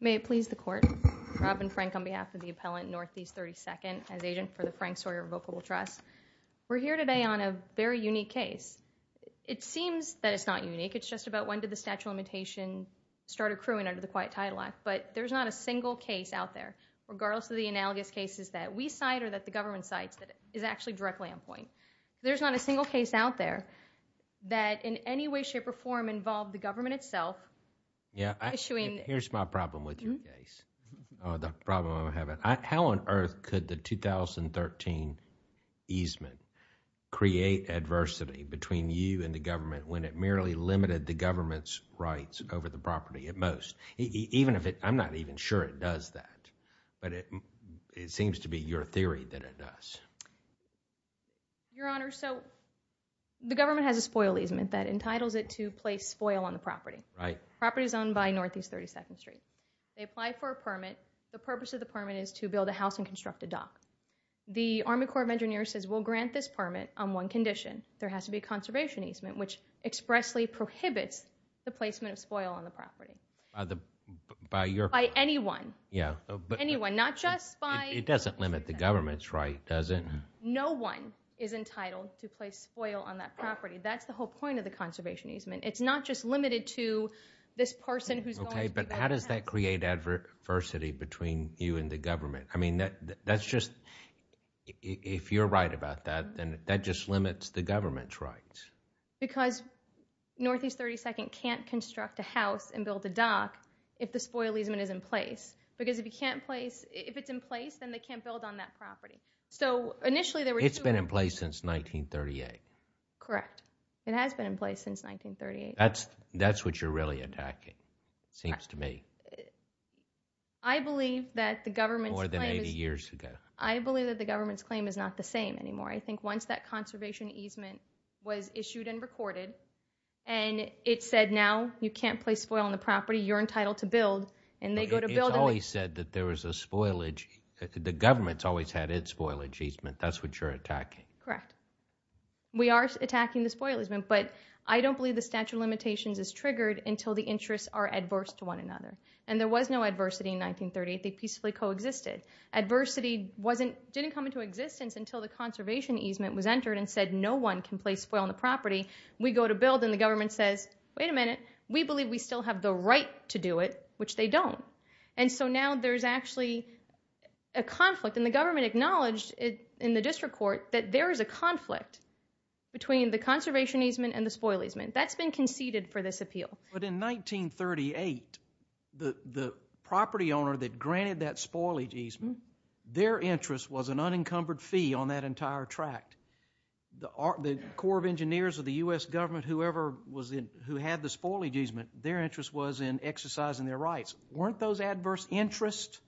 May it please the court, Robin Frank on behalf of the appellant Northeast 32nd as agent for the Frank Sawyer Revocable Trust. We're here today on a very unique case. It seems that it's not unique, it's just about when did the statute of limitation start accruing under the Quiet Tidal Act, but there's not a single case out there, regardless of the analogous cases that we cite or that the government cites, that is actually directly on point. There's not a single case out there that in any way, shape, or form involved the government itself issuing... Here's my problem with your case, the problem I'm having. How on earth could the 2013 easement create adversity between you and the government when it merely limited the government's rights over the property at most? Even if it... I'm not even sure it does that, but it seems to be your theory that it does. Your Honor, so the government has a spoil easement that entitles it to place spoil on the property. Right. The property is owned by Northeast 32nd Street. They apply for a permit. The purpose of the permit is to build a house and construct a dock. The Army Corps of Engineers says, we'll grant this permit on one condition. There has to be a conservation easement, which expressly prohibits the placement of spoil on the property. By the... By your... By anyone. Yeah, but... Anyone. Not just by... It doesn't limit the government's right, does it? No one is entitled to place spoil on that property. That's the whole point of the conservation easement. It's not just limited to this person who's going to be... Okay, but how does that create adversity between you and the government? I mean, that's just... if you're right about that, then that just limits the government's rights. Because Northeast 32nd can't construct a house and build a dock if the spoil easement is in place. Because if you can't place... if it's in place, then they can't build on that property. So initially, there were two... It's been in place since 1938. Correct. It has been in place since 1938. That's what you're really attacking, it seems to me. I believe that the government's claim is... More than 80 years ago. I believe that the government's claim is not the same anymore. I think once that conservation easement was issued and recorded, and it said, now, you can't place spoil on the property, you're entitled to build. Okay, it's always said that there was a spoilage... the government's always had its spoilage easement. That's what you're attacking. Correct. We are attacking the spoilage easement, but I don't believe the statute of limitations is triggered until the interests are adverse to one another. And there was no adversity in 1938, they peacefully coexisted. Adversity didn't come into existence until the conservation easement was entered and said no one can place spoil on the property. We go to build and the government says, wait a minute, we believe we still have the right to do it, which they don't. And so now there's actually a conflict, and the government acknowledged in the district court that there is a conflict between the conservation easement and the spoil easement. That's been conceded for this appeal. But in 1938, the property owner that granted that spoilage easement, their interest was an unencumbered fee on that entire tract. The Corps of Engineers of the U.S. government, whoever had the spoilage easement, their interest was in exercising their rights. Weren't those adverse interests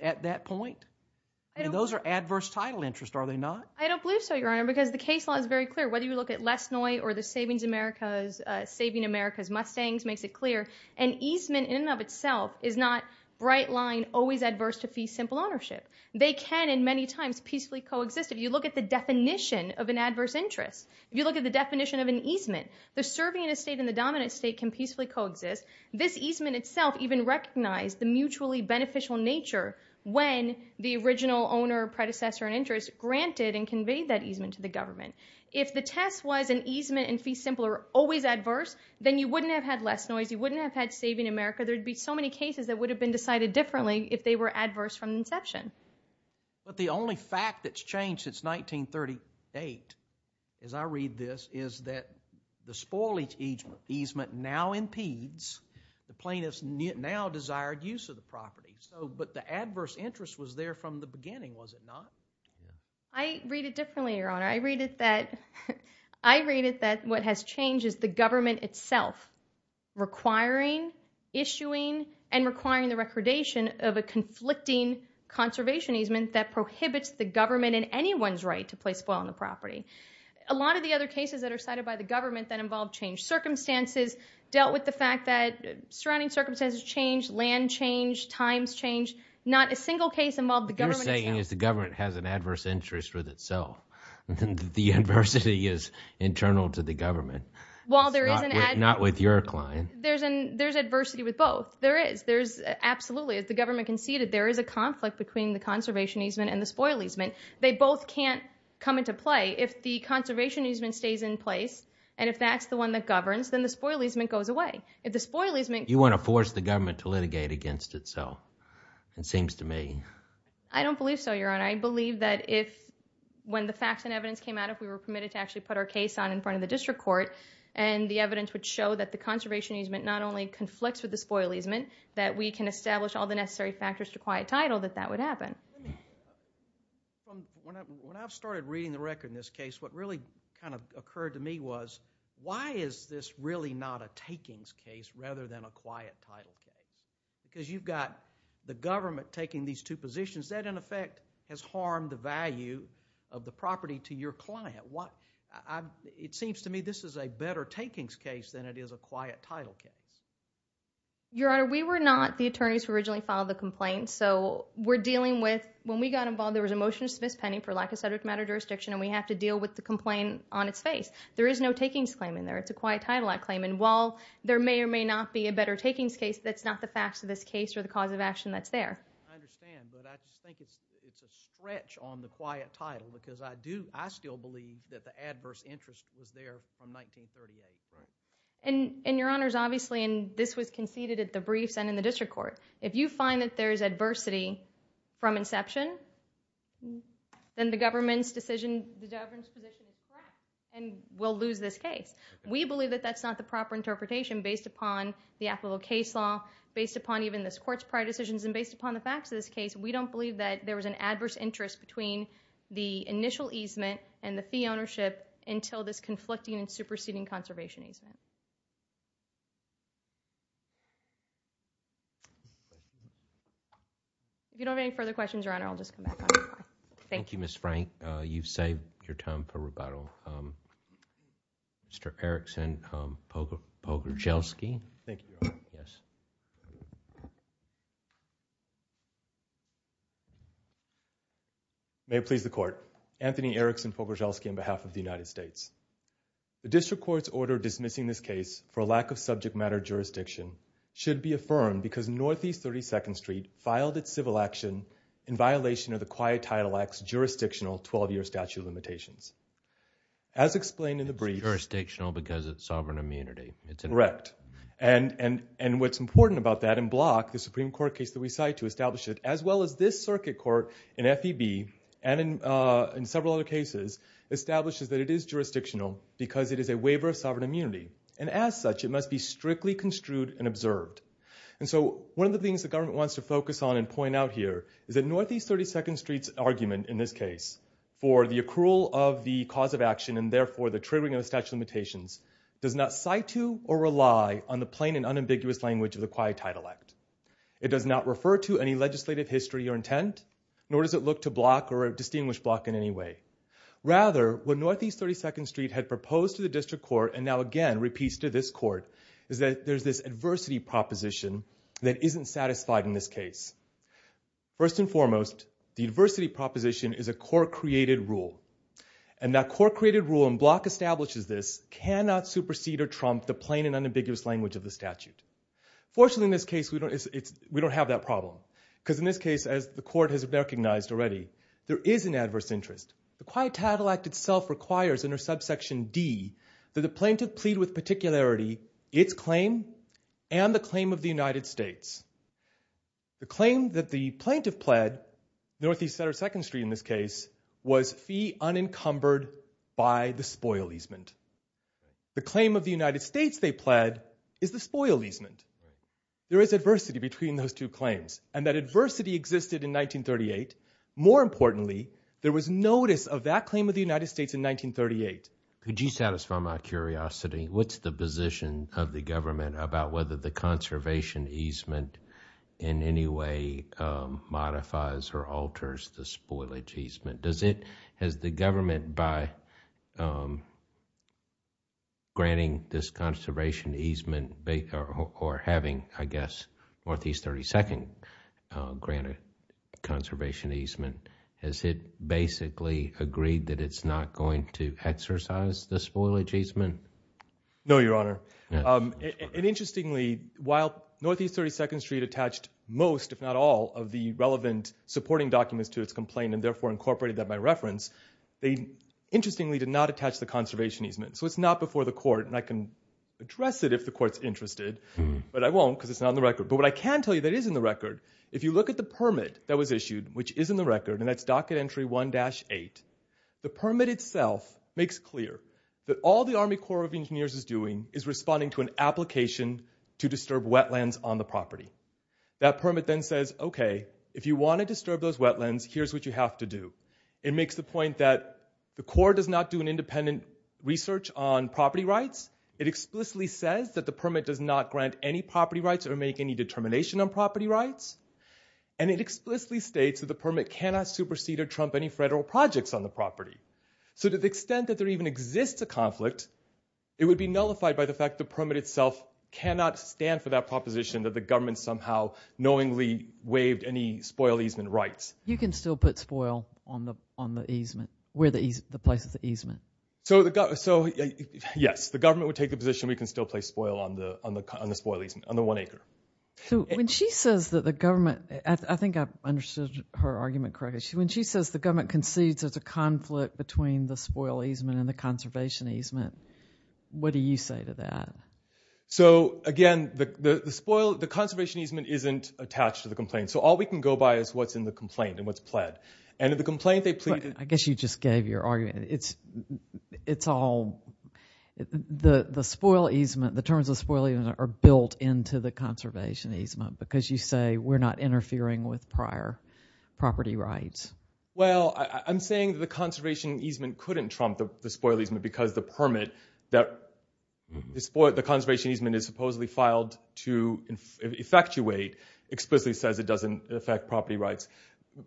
at that point? Those are adverse title interests, are they not? I don't believe so, Your Honor, because the case law is very clear. Whether you look at Lesnoy or the Saving America's Mustangs makes it clear. An easement in and of itself is not bright line, always adverse to fee simple ownership. They can, in many times, peacefully coexist. If you look at the definition of an adverse interest, if you look at the definition of an easement, the serving estate and the dominant estate can peacefully coexist. This easement itself even recognized the mutually beneficial nature when the original owner, predecessor, and interest granted and conveyed that easement to the government. If the test was an easement and fee simple are always adverse, then you wouldn't have had Lesnoy's. You wouldn't have had Saving America. There would be so many cases that would have been decided differently if they were adverse from inception. But the only fact that's changed since 1938, as I read this, is that the spoilage easement now impedes the plaintiff's now desired use of the property. But the adverse interest was there from the beginning, was it not? I read it differently, Your Honor. I read it that what has changed is the government itself requiring, issuing, and requiring the preservation easement that prohibits the government in anyone's right to place spoil on the property. A lot of the other cases that are cited by the government that involve changed circumstances dealt with the fact that surrounding circumstances change, land change, times change. Not a single case involved the government itself. You're saying is the government has an adverse interest with itself. The adversity is internal to the government, not with your client. There's adversity with both. There is. Absolutely. As the government conceded, there is a conflict between the conservation easement and the spoil easement. They both can't come into play. If the conservation easement stays in place, and if that's the one that governs, then the spoil easement goes away. If the spoil easement- You want to force the government to litigate against itself, it seems to me. I don't believe so, Your Honor. I believe that if, when the facts and evidence came out, if we were permitted to actually put our case on in front of the district court, and the evidence would show that the conservation easement not only conflicts with the spoil easement, that we can establish all the necessary factors to quiet title, that that would happen. When I started reading the record in this case, what really kind of occurred to me was, why is this really not a takings case, rather than a quiet title case? Because you've got the government taking these two positions. That, in effect, has harmed the value of the property to your client. It seems to me this is a better takings case than it is a quiet title case. Your Honor, we were not the attorneys who originally filed the complaint. We're dealing with, when we got involved, there was a motion to dismiss Penney for lack of subject matter jurisdiction, and we have to deal with the complaint on its face. There is no takings claim in there. It's a quiet title act claim, and while there may or may not be a better takings case, that's not the facts of this case or the cause of action that's there. I understand, but I just think it's a stretch on the quiet title, because I do, I still believe that the adverse interest was there from 1938. Your Honor, obviously, and this was conceded at the briefs and in the district court, if you find that there is adversity from inception, then the government's decision, the government's position is correct, and we'll lose this case. We believe that that's not the proper interpretation based upon the applicable case law, based upon even this court's prior decisions, and based upon the facts of this case. We don't believe that there was an adverse interest between the initial easement and the fee ownership until this conflicting and superseding conservation easement. If you don't have any further questions, Your Honor, I'll just come back on the floor. Thank you. Thank you, Ms. Frank. You've saved your time for rebuttal. Mr. Erickson, Paul Grzelski. Thank you, Your Honor. Yes. May it please the Court. Anthony Erickson, Paul Grzelski, on behalf of the United States. The district court's order dismissing this case for lack of subject matter jurisdiction should be affirmed because Northeast 32nd Street filed its civil action in violation of the Quiet Title Act's jurisdictional twelve-year statute of limitations. As explained in the brief... It's jurisdictional because it's sovereign immunity. Correct. And what's important about that in Block, the Supreme Court case that we cite to establish it, as well as this circuit court in FEB and in several other cases, establishes that it is jurisdictional because it is a waiver of sovereign immunity. And as such, it must be strictly construed and observed. And so one of the things the government wants to focus on and point out here is that Northeast 32nd Street's argument in this case for the accrual of the cause of action and therefore the triggering of the statute of limitations does not cite to or rely on the plain and unambiguous language of the Quiet Title Act. It does not refer to any legislative history or intent, nor does it look to Block or distinguish Block in any way. Rather, what Northeast 32nd Street had proposed to the district court and now again repeats to this court is that there's this adversity proposition that isn't satisfied in this case. First and foremost, the adversity proposition is a court-created rule. And that court-created rule, and Block establishes this, cannot supersede or trump the plain and unambiguous language of the statute. Fortunately, in this case, we don't have that problem. Because in this case, as the court has recognized already, there is an adverse interest. The Quiet Title Act itself requires under subsection D that the plaintiff plead with particularity its claim and the claim of the United States. The claim that the plaintiff pled, Northeast 32nd Street in this case, was fee unencumbered by the spoil easement. The claim of the United States they pled is the spoil easement. There is adversity between those two claims. And that adversity existed in 1938. More importantly, there was notice of that claim of the United States in 1938. Could you satisfy my curiosity, what's the position of the government about whether the in any way modifies or alters the spoilage easement? Has the government, by granting this conservation easement, or having, I guess, Northeast 32nd grant a conservation easement, has it basically agreed that it's not going to exercise the spoilage easement? No, Your Honor. And interestingly, while Northeast 32nd Street attached most, if not all, of the relevant supporting documents to its complaint and therefore incorporated that by reference, they interestingly did not attach the conservation easement. So it's not before the court, and I can address it if the court's interested, but I won't because it's not in the record. But what I can tell you that is in the record, if you look at the permit that was issued, which is in the record, and that's Docket Entry 1-8, the permit itself makes clear that all the Army Corps of Engineers is doing is responding to an application to disturb wetlands on the property. That permit then says, OK, if you want to disturb those wetlands, here's what you have to do. It makes the point that the Corps does not do an independent research on property rights. It explicitly says that the permit does not grant any property rights or make any determination on property rights. And it explicitly states that the permit cannot supersede or trump any federal projects on the property. So to the extent that there even exists a conflict, it would be nullified by the fact the permit itself cannot stand for that proposition that the government somehow knowingly waived any spoil easement rights. You can still put spoil on the easement, where the place is the easement. So yes, the government would take the position we can still place spoil on the spoil easement, on the one acre. So when she says that the government, I think I understood her argument correctly. When she says the government concedes there's a conflict between the spoil easement and the conservation easement, what do you say to that? So again, the spoil, the conservation easement isn't attached to the complaint. So all we can go by is what's in the complaint and what's pled. And in the complaint they pleaded. I guess you just gave your argument. It's all, the spoil easement, the terms of spoil easement are built into the conservation easement because you say we're not interfering with prior property rights. Well, I'm saying the conservation easement couldn't trump the spoil easement because the permit that the conservation easement is supposedly filed to effectuate explicitly says it doesn't affect property rights.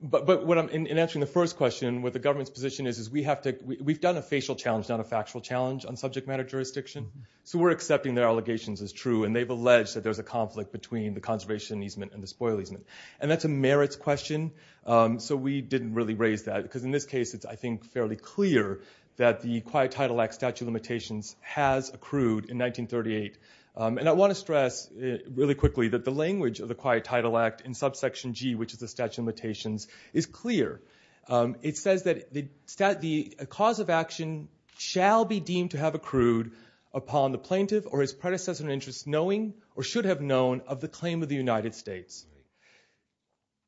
But in answering the first question, what the government's position is, is we have to, we've done a facial challenge, done a factual challenge on subject matter jurisdiction. So we're accepting their allegations as true and they've alleged that there's a conflict between the conservation easement and the spoil easement. And that's a merits question. So we didn't really raise that because in this case it's, I think, fairly clear that the Quiet Title Act statute of limitations has accrued in 1938. And I want to stress really quickly that the language of the Quiet Title Act in subsection G, which is the statute of limitations, is clear. It says that the cause of action shall be deemed to have accrued upon the plaintiff or his predecessor in interest knowing or should have known of the claim of the United States.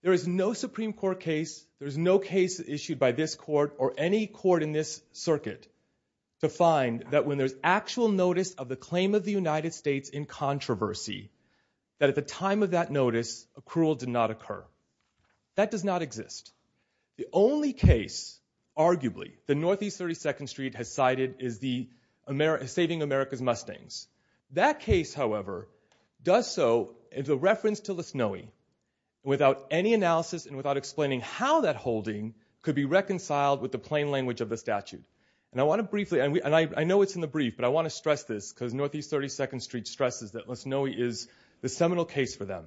There is no Supreme Court case, there's no case issued by this court or any court in this circuit to find that when there's actual notice of the claim of the United States in controversy that at the time of that notice accrual did not occur. That does not exist. The only case, arguably, that Northeast 32nd Street has cited is the Saving America's Mustangs. That case, however, does so as a reference to Lesnowey without any analysis and without explaining how that holding could be reconciled with the plain language of the statute. And I want to briefly, and I know it's in the brief, but I want to stress this because Northeast 32nd Street stresses that Lesnowey is the seminal case for them.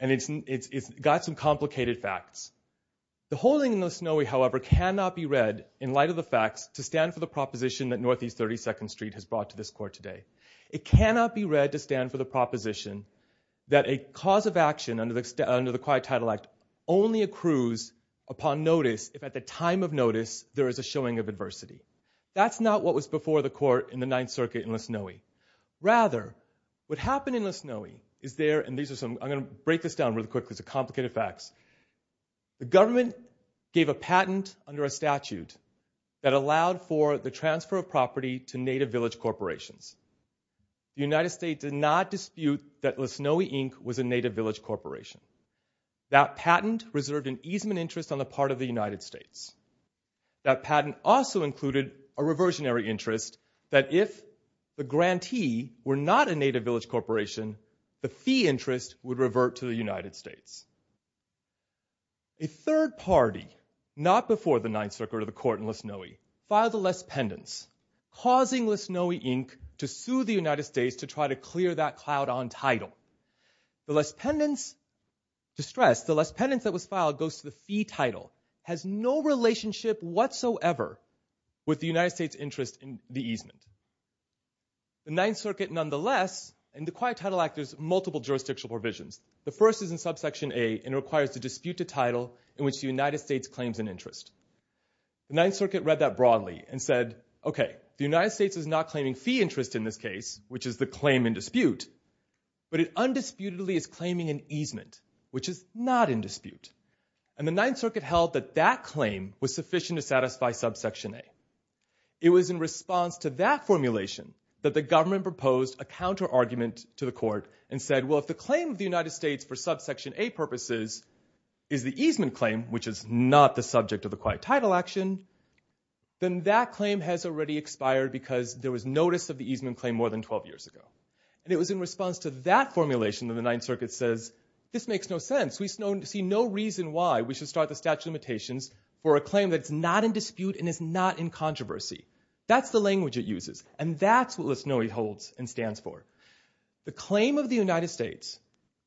And it's got some complicated facts. The holding in Lesnowey, however, cannot be read in light of the facts to stand for the proposition that Northeast 32nd Street has brought to this court today. It cannot be read to stand for the proposition that a cause of action under the Quiet Title Act only accrues upon notice if at the time of notice there is a showing of adversity. That's not what was before the court in the Ninth Circuit in Lesnowey. Rather, what happened in Lesnowey is there, and these are some, I'm going to break this down really quick because they're complicated facts. The government gave a patent under a statute that allowed for the transfer of property to native village corporations. The United States did not dispute that Lesnowey, Inc. was a native village corporation. That patent reserved an easement interest on the part of the United States. That patent also included a reversionary interest that if the grantee were not a native village corporation, the fee interest would revert to the United States. A third party, not before the Ninth Circuit or the court in Lesnowey, filed a les pendants, causing Lesnowey, Inc. to sue the United States to try to clear that cloud on title. The les pendants, to stress, the les pendants that was filed goes to the fee title, has no relationship whatsoever with the United States' interest in the easement. The Ninth Circuit, nonetheless, in the Quiet Title Act, there's multiple jurisdictional provisions. The first is in subsection A, and it requires to dispute the title in which the United States claims an interest. The Ninth Circuit read that broadly and said, okay, the United States is not claiming fee interest in this case, which is the claim in dispute, but it undisputedly is claiming an easement, which is not in dispute. And the Ninth Circuit held that that claim was sufficient to satisfy subsection A. It was in response to that formulation that the government proposed a counter-argument to the court and said, well, if the claim of the United States for subsection A purposes is the easement claim, which is not the subject of the Quiet Title Action, then that claim has already expired because there was notice of the easement claim more than 12 years ago. And it was in response to that formulation that the Ninth Circuit says, this makes no reason why we should start the statute of limitations for a claim that's not in dispute and is not in controversy. That's the language it uses, and that's what List No. 8 holds and stands for. The claim of the United States,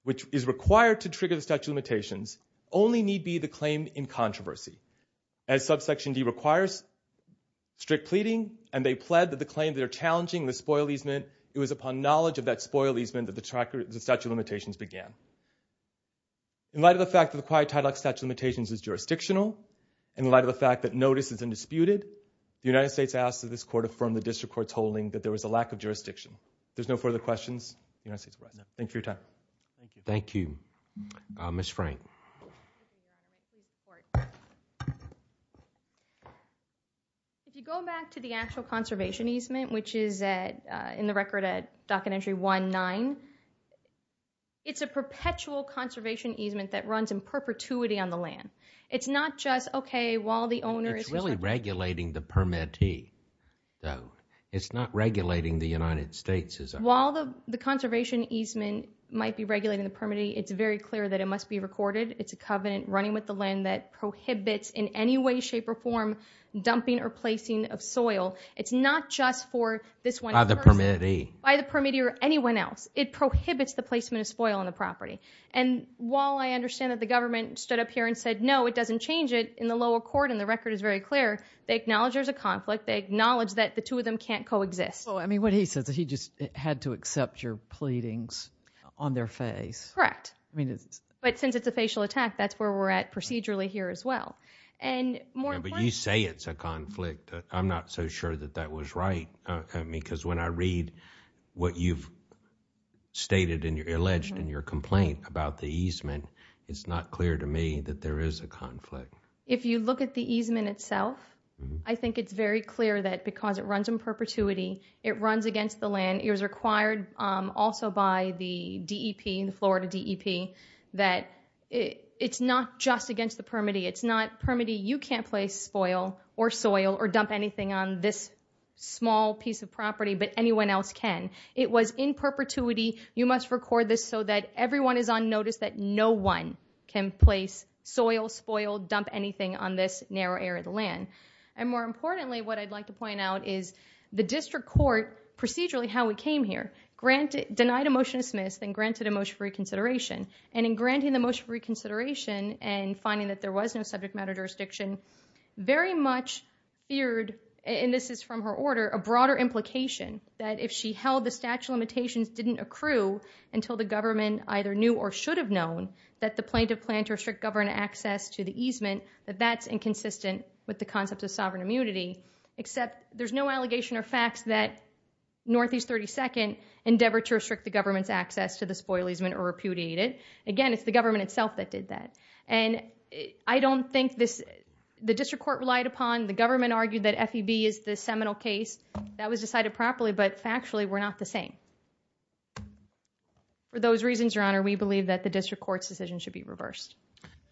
which is required to trigger the statute of limitations, only need be the claim in controversy. As subsection D requires strict pleading, and they pled that the claim they're challenging the spoil easement, it was upon knowledge of that spoil easement that the statute of limitations began. In light of the fact that the Quiet Title Act statute of limitations is jurisdictional, in light of the fact that notice is undisputed, the United States asks that this court affirm the district court's holding that there was a lack of jurisdiction. There's no further questions. The United States will rise now. Thank you for your time. Thank you. Thank you. Ms. Frank. If you go back to the actual conservation easement, which is in the record at docket entry 1-9, it's a perpetual conservation easement that runs in perpetuity on the land. It's not just, okay, while the owner is- It's really regulating the permittee, though. It's not regulating the United States as a- While the conservation easement might be regulating the permittee, it's very clear that it must be recorded. It's a covenant running with the land that prohibits in any way, shape, or form dumping or placing of soil. It's not just for this one person- By the permittee. By the permittee or anyone else. It prohibits the placement of soil on the property. While I understand that the government stood up here and said, no, it doesn't change it, in the lower court, and the record is very clear, they acknowledge there's a conflict. They acknowledge that the two of them can't coexist. What he says, he just had to accept your pleadings on their face. Correct. Since it's a facial attack, that's where we're at procedurally here as well. More importantly- You say it's a conflict. I'm not so sure that that was right because when I read what you've stated and alleged in your complaint about the easement, it's not clear to me that there is a conflict. If you look at the easement itself, I think it's very clear that because it runs in perpetuity, it runs against the land. It was required also by the DEP, the Florida DEP, that it's not just against the permittee. It's not permittee, you can't place spoil, or soil, or dump anything on this small piece of property, but anyone else can. It was in perpetuity, you must record this so that everyone is on notice that no one can place soil, spoil, dump anything on this narrow area of the land. More importantly, what I'd like to point out is the district court, procedurally how it came here, denied a motion to dismiss, then granted a motion for reconsideration. In granting the motion for reconsideration and finding that there was no subject matter jurisdiction, very much feared, and this is from her order, a broader implication that if she held the statute of limitations didn't accrue until the government either knew or should have known that the plaintiff planned to restrict government access to the easement, that that's inconsistent with the concept of sovereign immunity, except there's no allegation or facts that Northeast 32nd endeavored to restrict the government's access to the spoil and to remediate it. Again, it's the government itself that did that. I don't think the district court relied upon, the government argued that FEB is the seminal case that was decided properly, but factually, we're not the same. For those reasons, Your Honor, we believe that the district court's decision should be reversed.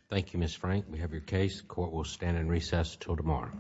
Thank you, Ms. Frank. We have your case. The court will stand in recess until tomorrow.